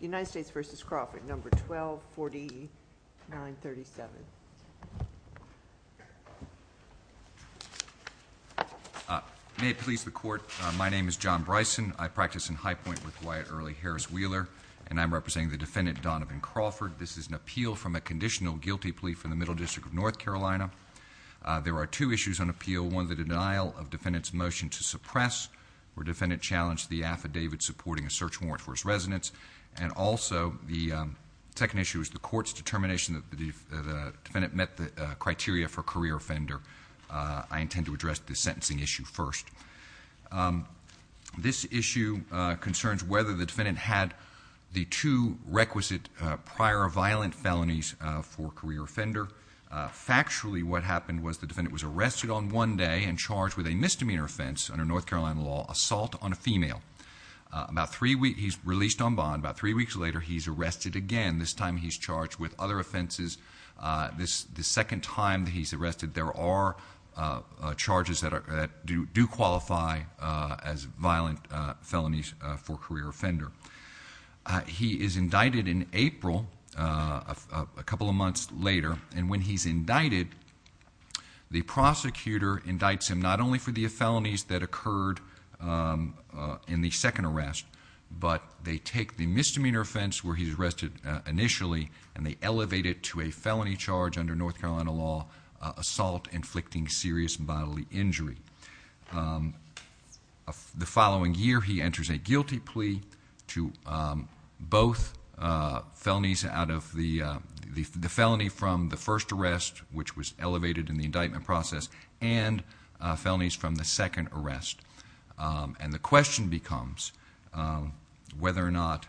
United States v. Crawford, number 124937. May it please the Court, my name is John Bryson. I practice in High Point with Wyatt Early Harris Wheeler and I'm representing the defendant Donovan Crawford. This is an appeal from a conditional guilty plea from the Middle District of North Carolina. There are two issues on appeal. One, the denial of defendant's motion to suppress where defendant challenged the affidavit supporting a search warrant for his residence. And also, the second issue is the court's determination that the defendant met the criteria for career offender. I intend to address the sentencing issue first. This issue concerns whether the defendant had the two requisite prior violent felonies for career offender. Factually, what happened was the defendant was arrested on one day and charged with a misdemeanor offense under North Carolina law, assault on a female. About three weeks, he's released on bond. About three weeks later, he's arrested again. This time he's charged with other offenses. The second time he's arrested, there are charges that do qualify as violent felonies for career offender. He is indicted in April, a couple of months later, and when he's indicted, the prosecutor indicts him not only for the felonies that occurred in the second arrest, but they take the misdemeanor offense where he's arrested initially and they elevate it to a felony charge under North Carolina law, assault inflicting serious bodily injury. The following year, he enters a guilty plea to both felonies out of the felony from the first arrest, which was elevated in the indictment process, and felonies from the second arrest. And the question is whether or not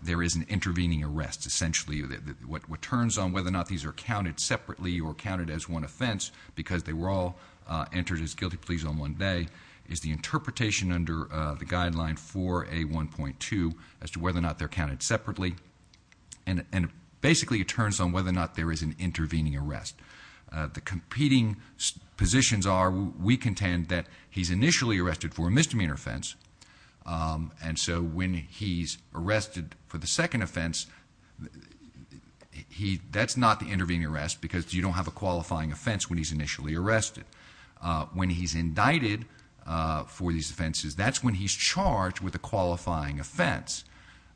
there is an intervening arrest. Essentially, what turns on whether or not these are counted separately or counted as one offense, because they were all entered as guilty pleas on one day, is the interpretation under the guideline for A1.2 as to whether or not they're counted separately. And basically, it turns on whether or not there is an intervening arrest. The competing positions are, we contend that he's initially arrested for a misdemeanor offense, and so when he's arrested for the second offense, that's not the intervening arrest because you don't have a qualifying offense when he's initially arrested. When he's indicted for these offenses, that's when he's charged with a qualifying offense,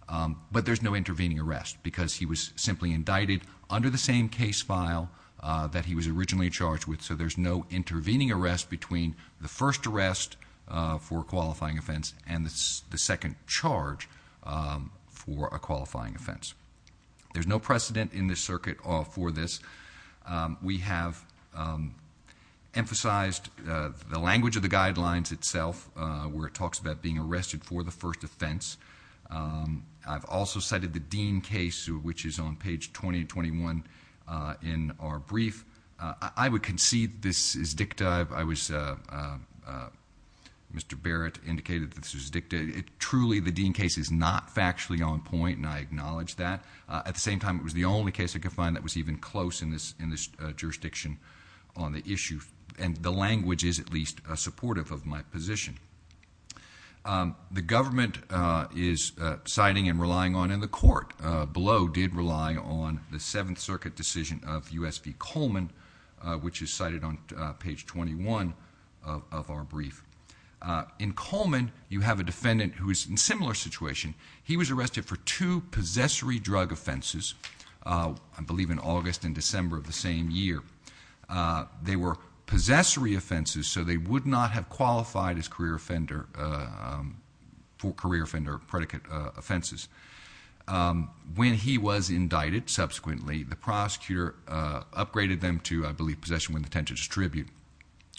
but there's no intervening arrest because he was simply indicted under the same case file that he was originally charged with. So there's no intervening arrest between the first arrest for a qualifying offense and the second charge for a qualifying offense. There's no precedent in the circuit for this. We have emphasized the language of the guidelines itself, where it talks about being arrested for the first offense. I've also cited the Dean case, which is on page 20 and 21 in our brief. I would concede this is dicta. Mr. Barrett indicated that this was dicta. Truly, the Dean case is not factually on point, and I acknowledge that. At the same time, it was the only case I could find that was even close in this jurisdiction on the issue, and the language is, at least, supportive of my position. The government is citing and relying on the court. Below did rely on the Seventh Circuit decision of U.S. v. Coleman, which is cited on page 21 of our brief. In Coleman, you have a defendant who is in a similar situation. He was arrested for two possessory drug offenses, I believe in August and December of the same year. They were possessory offenses, so they would not have qualified as career offender predicate offenses. When he was indicted, subsequently, the prosecutor upgraded them to, I believe, possession with intent to distribute,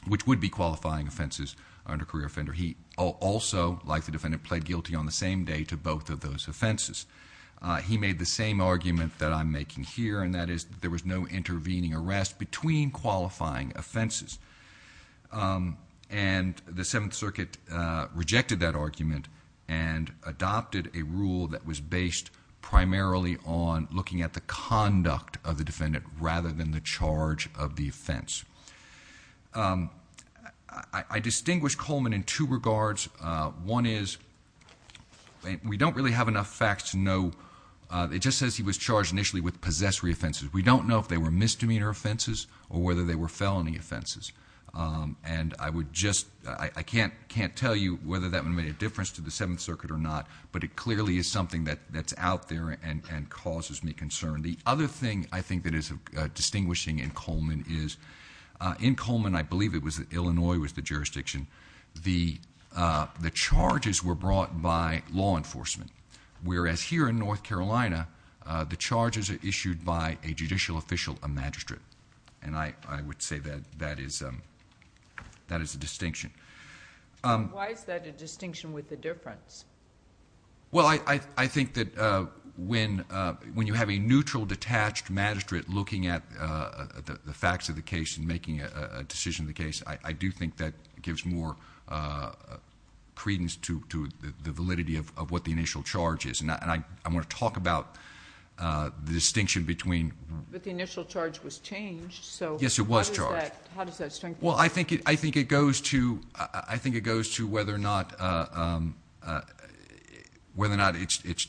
which would be qualifying offenses under career offender. He also, like the defendant, pled guilty on the same day to both of those offenses. He made the same argument that I'm making here, and that is there was no intervening arrest and adopted a rule that was based primarily on looking at the conduct of the defendant rather than the charge of the offense. I distinguish Coleman in two regards. One is, we don't really have enough facts to know. It just says he was charged initially with possessory offenses. We don't know if they were misdemeanor offenses or whether they were felony offenses. I can't tell you whether that would have made a difference to the Seventh Circuit or not, but it clearly is something that's out there and causes me concern. The other thing I think that is distinguishing in Coleman is, in Coleman, I believe it was Illinois was the jurisdiction, the charges were brought by law enforcement, whereas here in North Carolina, the charges are issued by a judicial official, a magistrate. And I would say that is a distinction. Why is that a distinction with a difference? Well, I think that when you have a neutral, detached magistrate looking at the facts of the case and making a decision of the case, I do think that gives more credence to the validity of what the initial charge is. And I want to talk about the distinction between... But the initial charge was changed, so... How does that strengthen... Well, I think it goes to whether or not it's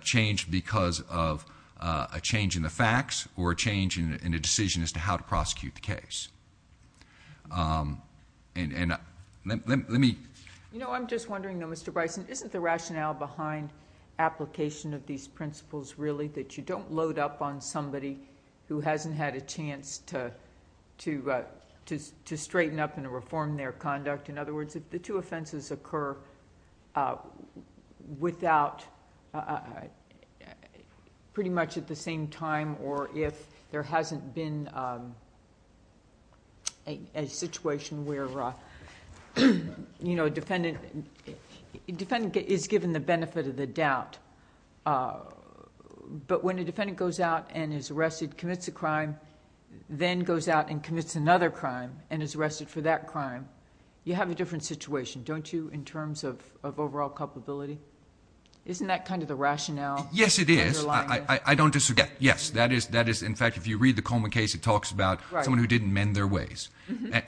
changed because of a change in the facts or a change in a decision as to how to prosecute the case. And let me... You know, I'm just wondering, though, Mr. Bryson, isn't the rationale behind application of these principles really that you don't load up on to straighten up and reform their conduct? In other words, if the two offenses occur without... pretty much at the same time, or if there hasn't been a situation where a defendant is given the benefit of the doubt, but when a defendant goes out and is arrested, commits a crime, then goes out and commits another crime and is arrested for that crime, you have a different situation, don't you, in terms of overall culpability? Isn't that kind of the rationale underlying... Yes, it is. I don't disagree. Yes. That is, in fact, if you read the Coleman case, it talks about someone who didn't mend their ways.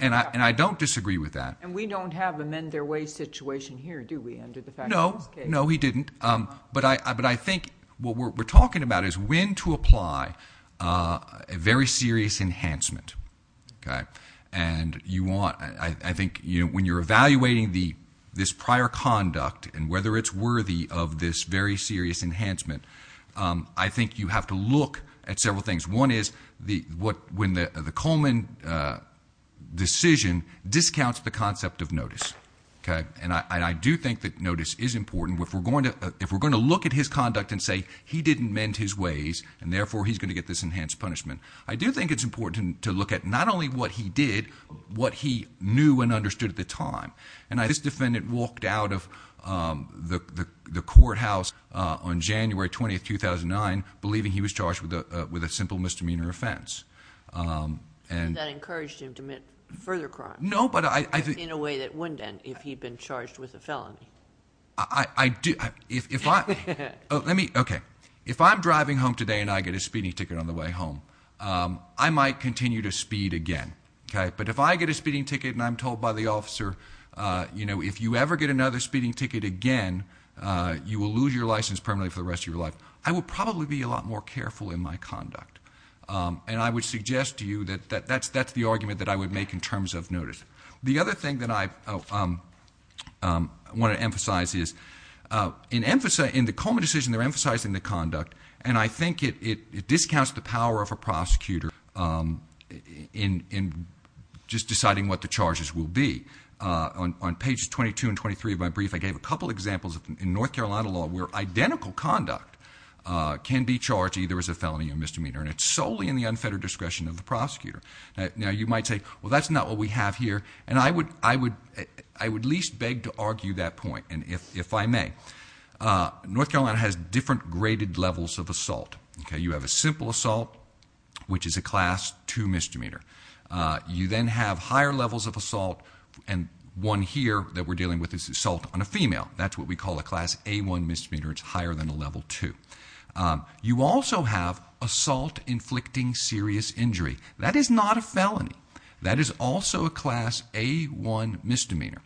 And I don't disagree with that. And we don't have a mend their ways situation here, do we, under the fact... No. No, we didn't. But I think what we're talking about is when to apply a very serious enhancement. And I think when you're evaluating this prior conduct and whether it's worthy of this very serious enhancement, I think you have to look at several things. One is when the Coleman decision discounts the concept of notice. And I do think that notice is important. If we're going to look at his conduct and say he didn't mend his ways, and therefore he's going to get this enhanced punishment, I do think it's important to look at not only what he did, but what he knew and understood at the time. And this defendant walked out of the courthouse on January 20, 2009, believing he was charged with a simple misdemeanor offense. And that encouraged him to commit further crime... No, but I...... in a way that wouldn't have if he had been charged with a felony. I do... if I... let me... okay. If I'm driving home today and I get a speeding ticket on the way home, I might continue to speed again. But if I get a speeding ticket and I'm told by the officer, you know, if you ever get another speeding ticket again, you will lose your license permanently for the rest of your life, I will probably be a lot more careful in my conduct. And I would suggest to you that that's the argument that I would make in terms of what I emphasize is... in the Coleman decision, they're emphasizing the conduct. And I think it discounts the power of a prosecutor in just deciding what the charges will be. On pages 22 and 23 of my brief, I gave a couple examples in North Carolina law where identical conduct can be charged either as a felony or misdemeanor. And it's solely in the unfettered discretion of the prosecutor. Now, you might say, well, that's not what we have here. And I would at least beg to argue that point, if I may. North Carolina has different graded levels of assault. You have a simple assault, which is a Class 2 misdemeanor. You then have higher levels of assault. And one here that we're dealing with is assault on a female. That's what we call a Class A1 misdemeanor. It's higher than a Level 2. You also have assault inflicting serious injury. That is not a felony. That is also a Class A1 misdemeanor.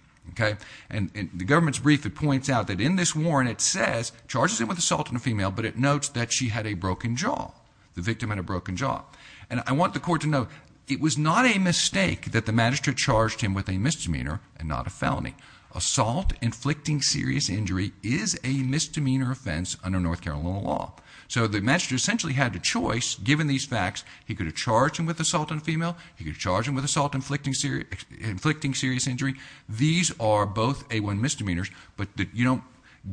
And in the government's brief, it points out that in this warrant, it says, charges him with assault on a female, but it notes that she had a broken jaw. The victim had a broken jaw. And I want the court to know, it was not a mistake that the magistrate charged him with a misdemeanor and not a felony. Assault inflicting serious injury is a misdemeanor offense under North Carolina. And in these facts, he could have charged him with assault on a female. He could charge him with assault inflicting serious injury. These are both A1 misdemeanors, but you don't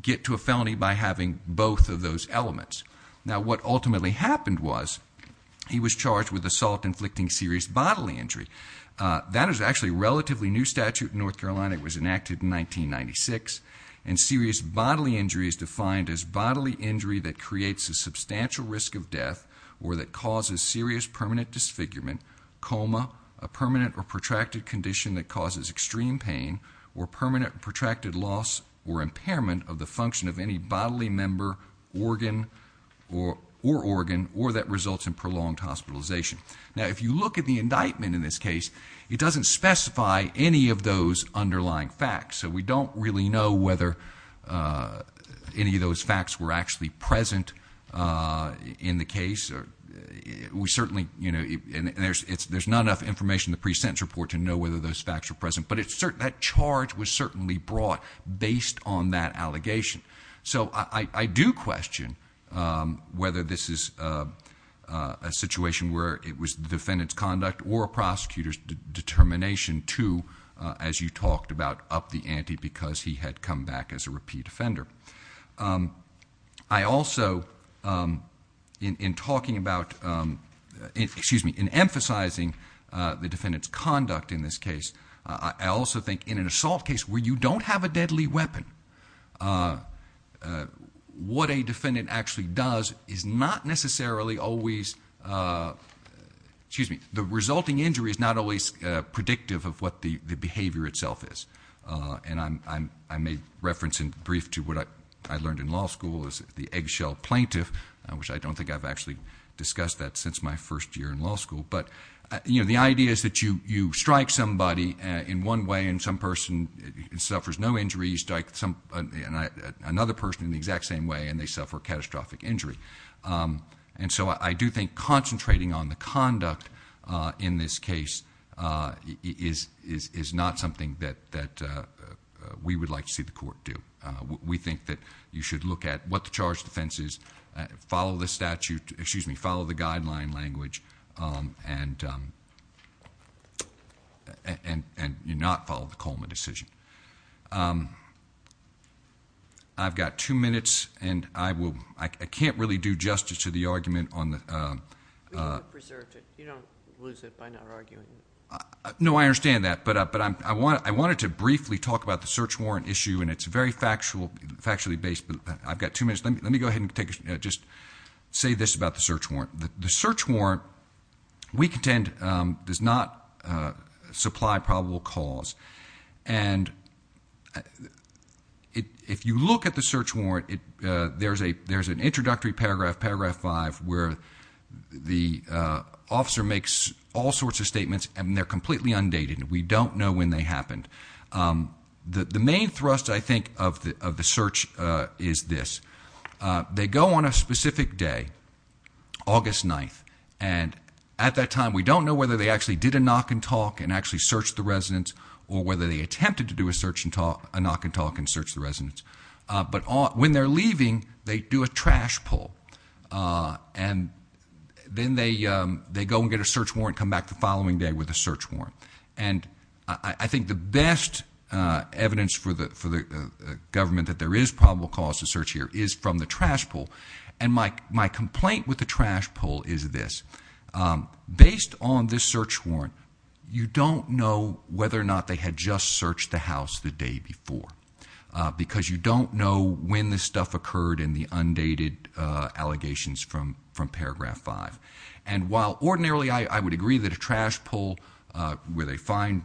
get to a felony by having both of those elements. Now, what ultimately happened was, he was charged with assault inflicting serious bodily injury. That is actually a relatively new statute in North Carolina. It was enacted in 1996. And serious bodily injury is defined as bodily injury that creates a substantial risk of death or that causes serious permanent disfigurement, coma, a permanent or protracted condition that causes extreme pain, or permanent protracted loss or impairment of the function of any bodily member, organ, or organ, or that results in prolonged hospitalization. Now, if you look at the indictment in this case, it doesn't specify any of those underlying facts. So, we don't really know whether any of those facts were actually present in the case. We certainly, you know, and there's not enough information in the pre-sentence report to know whether those facts are present. But that charge was certainly brought based on that allegation. So, I do question whether this is a situation where it was the defendant's conduct or a prosecutor's determination to, as you know, because he had come back as a repeat offender. I also, in talking about, excuse me, in emphasizing the defendant's conduct in this case, I also think in an assault case where you don't have a deadly weapon, what a defendant actually does is not necessarily always, excuse me, the resulting injury is not always predictive of what the behavior itself is. And I made reference in brief to what I learned in law school as the eggshell plaintiff, which I don't think I've actually discussed that since my first year in law school. But, you know, the idea is that you strike somebody in one way and some person suffers no injury. You strike another person in the exact same way and they suffer catastrophic injury. And so, I do think concentrating on the conduct in this case is not something that we would like to see the court do. We think that you should look at what the charge of defense is, follow the statute, excuse me, follow the guideline language, and not follow the Coleman decision. I've got two minutes and I can't really do justice to the argument on... We've preserved it. You don't lose it by not arguing. No, I understand that. But I wanted to briefly talk about the search warrant issue and it's very factually based. But I've got two minutes. Let me go ahead and just say this about the search warrant. The search warrant, we contend, does not supply probable cause. And if you look at the search warrant, there's an introductory paragraph, paragraph five, where the officer makes all sorts of statements and they're completely undated. We don't know when they happened. The main thrust, I think, of the search is this. They go on a specific day, August 9th, and at that time, we don't know whether they actually did a knock and talk and actually searched the residence or whether they attempted to do a knock and talk and search the residence. But when they're leaving, they do a trash pull. And then they go and get a search warrant and come back the following day with a search warrant. And I think the best evidence for the government that there is probable cause to search here is from the trash pull. And my complaint with the trash pull is this. Based on this search warrant, you don't know whether or not they had just searched the house the day before. Because you don't know when this stuff occurred in the undated allegations from paragraph five. And while ordinarily, I would agree that a trash pull, where they find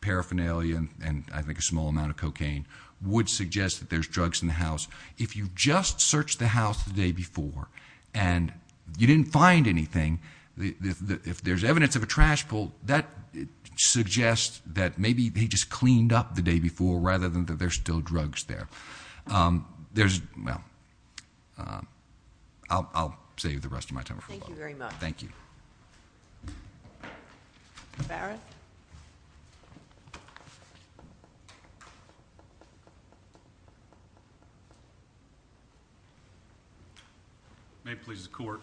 paraphernalia and I think a small amount of cocaine, would suggest that there's drugs in the house. If you just searched the house the day before and you didn't find anything, if there's evidence of a trash pull, that suggests that maybe they just cleaned up the day before rather than that there's still drugs there. Um, there's well, I'll save the rest of my time. Thank you very much. Thank you. Barrett. May it please the court.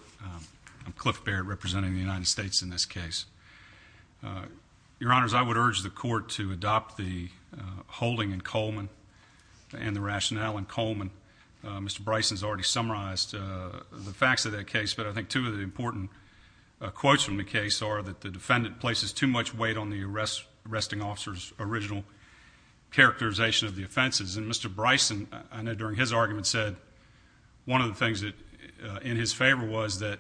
I'm Cliff Barrett representing the United States in this case. Your honors, I would urge the court to adopt the holding in Coleman and the rationale in Coleman. Mr Bryson's already summarized the facts of that case. But I think two of the important quotes from the case are that the defendant places too much weight on the arrest. Arresting officers original characterization of the offenses. And Mr Bryson, I know during his argument, said one of the things that in his favor was that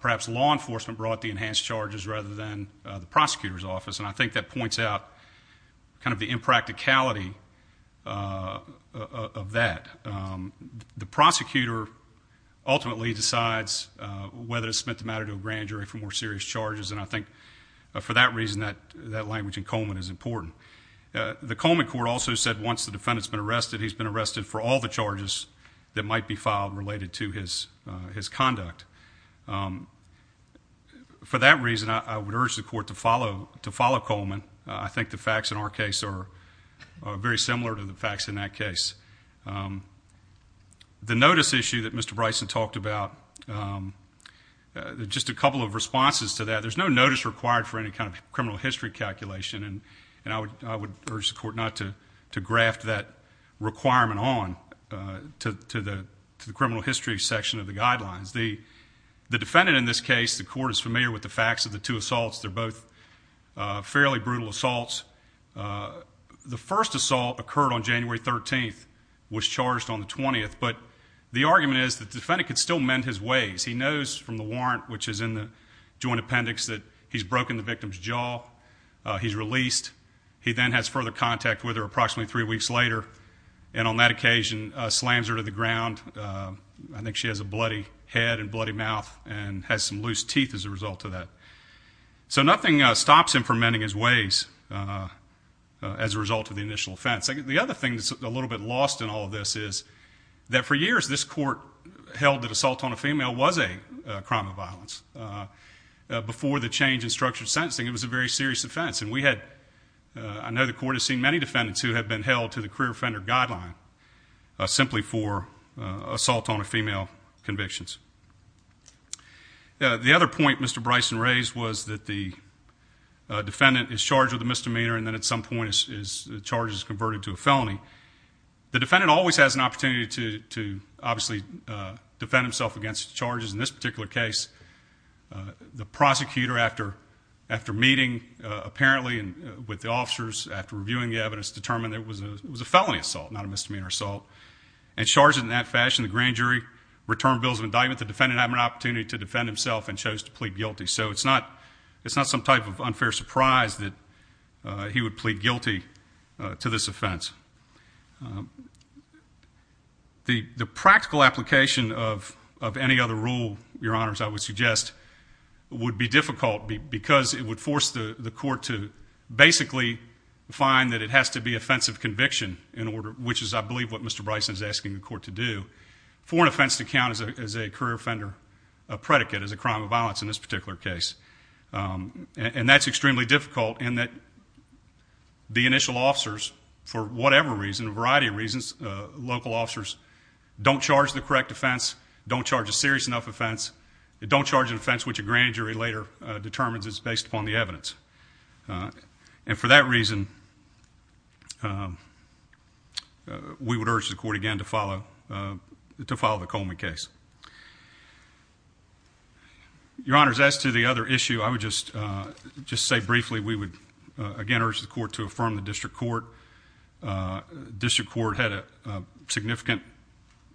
perhaps law enforcement brought the enhanced charges rather than the prosecutor's office. And I think that points out kind of the impracticality, uh, of that. Um, the prosecutor ultimately decides whether to submit the matter to a grand jury for more serious charges. And I think for that reason that that language in Coleman is important. The Coleman court also said once the defendant's been arrested, he's been arrested for all the charges that might be filed related to his his conduct. Um, for that reason, I would urge the court to follow to follow Coleman. I think the facts in our case are very similar to the facts in that case. Um, the notice issue that Mr Bryson talked about, um, just a couple of responses to that. There's no notice required for any kind of criminal history calculation. And I would I would urge the court not to graft that requirement on to the criminal history section of the guidelines. The defendant in this case, the court is familiar with the facts of the two assaults. They're both fairly brutal assaults. Uh, the first assault occurred on January 13th was charged on the 20th. But the argument is that the defendant could still mend his ways. He knows from the warrant, which is in the joint appendix that he's broken the victim's jaw. He's released. He then has further contact with her approximately three weeks later, and on that occasion slams her to the ground. I think she has a bloody head and bloody mouth and has some loose teeth as a result of that. So nothing stops him from ending his ways as a result of the initial offense. The other thing that's a little bit lost in all of this is that for years, this court held that assault on a female was a crime of violence. Uh, before the change in structured sentencing, it was a very serious offense. And we had I know the court has seen many defendants who have been held to the career offender guideline simply for the other point. Mr Bryson raised was that the defendant is charged with a misdemeanor, and then at some point is charges converted to a felony. The defendant always has an opportunity to obviously defend himself against charges. In this particular case, the prosecutor, after after meeting apparently with the officers after reviewing the evidence, determined it was a felony assault, not a misdemeanor assault and charges in that fashion. The grand jury returned bills of indictment. The defendant had an opportunity to defend himself and chose to plead guilty. So it's not. It's not some type of unfair surprise that he would plead guilty to this offense. The practical application of of any other rule, your honors, I would suggest would be difficult because it would force the court to basically find that it has to be offensive conviction in order, which is, I believe, what Mr Bryson is asking the court to do for an offense to count as a career offender predicate is a crime of violence in this particular case. Um, and that's extremely difficult in that the initial officers, for whatever reason, a variety of reasons, local officers don't charge the correct defense, don't charge a serious enough offense, don't charge an offense, which a grand jury later determines is based upon the evidence. Uh, and for that reason, uh, we would urge the court again to follow, uh, to follow the Coleman case. Yeah, your honors. As to the other issue, I would just, uh, just say briefly, we would again urge the court to affirm the district court. Uh, district court had a significant,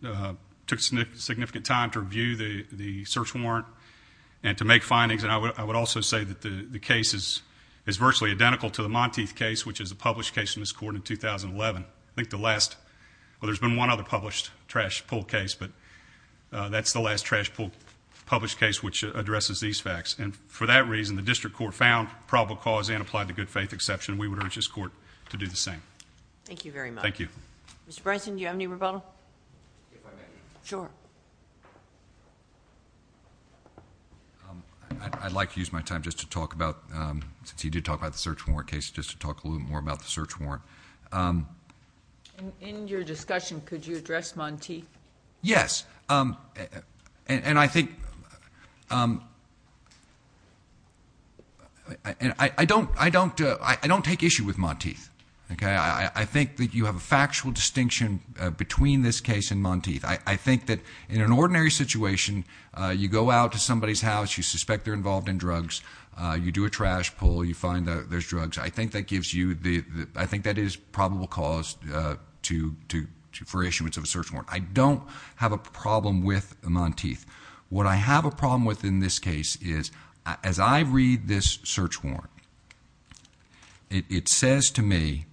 uh, took significant time to review the search warrant and to make findings. And I would also say that the case is virtually identical to the Monteith case, which is a published case in this court in 2011. I think the last well, there's been one other published trash pool case, but uh, that's the last trash pool published case, which addresses these facts. And for that reason, the district court found probable cause and applied to good faith exception. We would urge this court to do the same. Thank you very much. Thank you. Mr Bryson, do you have any rebuttal? Sure. I'd like to use my time just to talk about, um, since you did talk about the search warrant case, just to talk a little more about the search warrant. Um, in your discussion, could you address Monteith? Yes. Um, and I think, um, I don't, I don't, I don't take issue with Monteith. Okay. I think that you have a factual distinction between this case and Monteith. I think that in an ordinary situation, you go out to somebody's house, you suspect they're involved in drugs, you do a trash pull, you find that there's drugs. I think that gives you the, I think that is probable cause, uh, to, to, for issuance of a search warrant. I don't have a problem with Monteith. What I have a problem with in this case is as I read this search warrant, it says to me,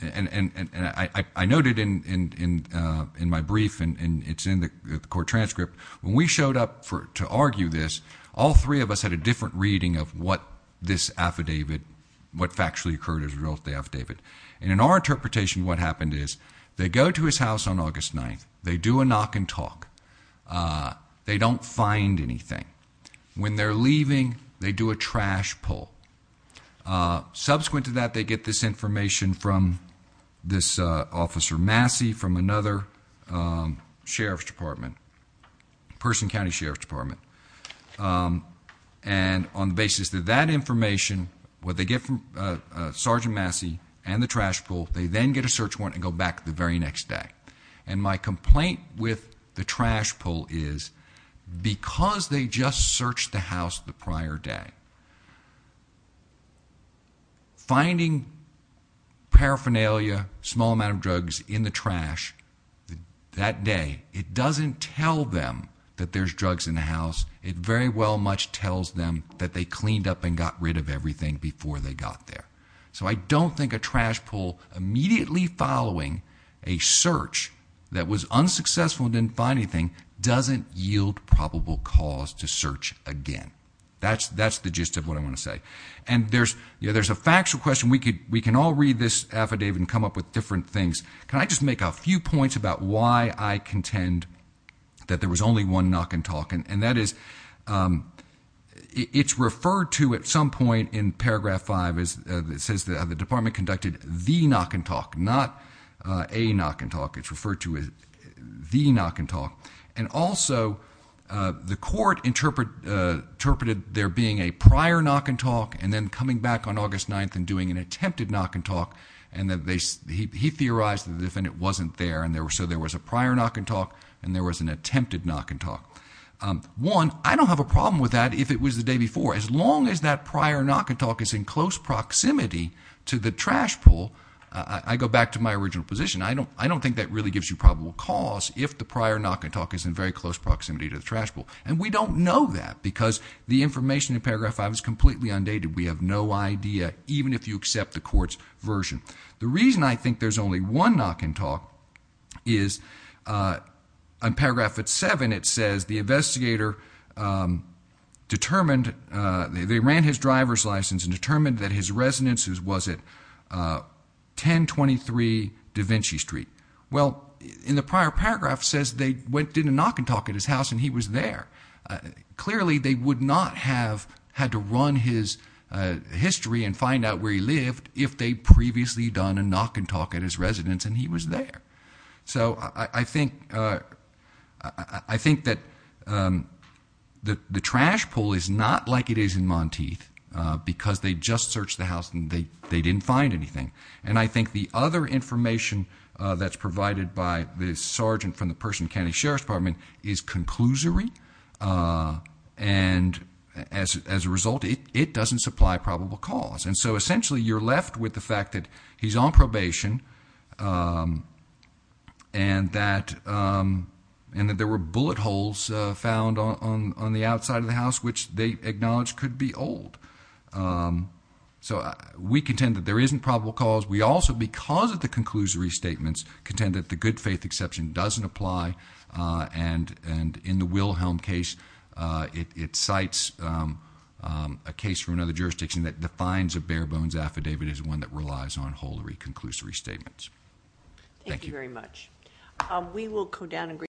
and I noted in, in, uh, in my brief and it's in the court transcript when we showed up for to argue this, all three of us had a actually occurred as a result of the affidavit. And in our interpretation, what happened is they go to his house on august 9th. They do a knock and talk. Uh, they don't find anything when they're leaving. They do a trash pull. Uh, subsequent to that, they get this information from this officer Massey from another, um, Sheriff's Department, Person County Sheriff's Department. Um, and on the basis of that information, what they get from Sergeant Massey and the trash pool, they then get a search warrant and go back the very next day. And my complaint with the trash pull is because they just searched the house the prior day finding paraphernalia, small amount of drugs in the trash that day, it doesn't tell them that there's drugs in the house. It very well much tells them that they cleaned up and got rid of everything before they got there. So I don't think a trash pool immediately following a search that was unsuccessful and didn't find anything doesn't yield probable cause to search again. That's that's the gist of what I want to say. And there's, you know, there's a factual question. We could, we can all read this affidavit and come up with different things. Can I just make a few points about why I contend that there was only one knock and talking and that is, um, it's referred to at some point in paragraph five as it says that the department conducted the knock and talk, not a knock and talk. It's referred to as the knock and talk. And also, uh, the court interpret, uh, interpreted there being a prior knock and talk and then coming back on august 9th and doing an attempted knock and talk. And that he theorized that the defendant wasn't there and there were, so there was a prior knock and talk and there was an attempted knock and talk. Um, one, I don't have a problem with that if it was the day before, as long as that prior knock and talk is in close proximity to the trash pool. I go back to my original position. I don't, I don't think that really gives you probable cause if the prior knock and talk is in very close proximity to the trash pool. And we don't know that because the information in paragraph five is completely undated. We have no idea even if you accept the court's version. The reason I think there's only one knock and talk is, uh, on paragraph at seven, it says the investigator, um, determined, uh, they ran his driver's license and determined that his residence is, was it, uh, 10 23 Da Vinci street. Well, in the prior paragraph says they went to the knock and talk at his house and he was there. Clearly they would not have had to run his history and find out where he lived if they previously done a knock and talk at his residence and he was there. So I think, uh, I think that, um, that the trash pool is not like it is in Monteith because they just searched the house and they didn't find anything. And I think the other information that's provided by the sergeant from the person, county sheriff's department is conclusory. Uh, and so essentially you're left with the fact that he's on probation. Um, and that, um, and that there were bullet holes found on, on the outside of the house, which they acknowledged could be old. Um, so we contend that there isn't probable cause. We also, because of the conclusory statements, contend that the good faith exception doesn't apply. Uh, and, and in the Wilhelm case, uh, it bare bones affidavit is one that relies on holiery conclusory statements. Thank you very much. We will go down and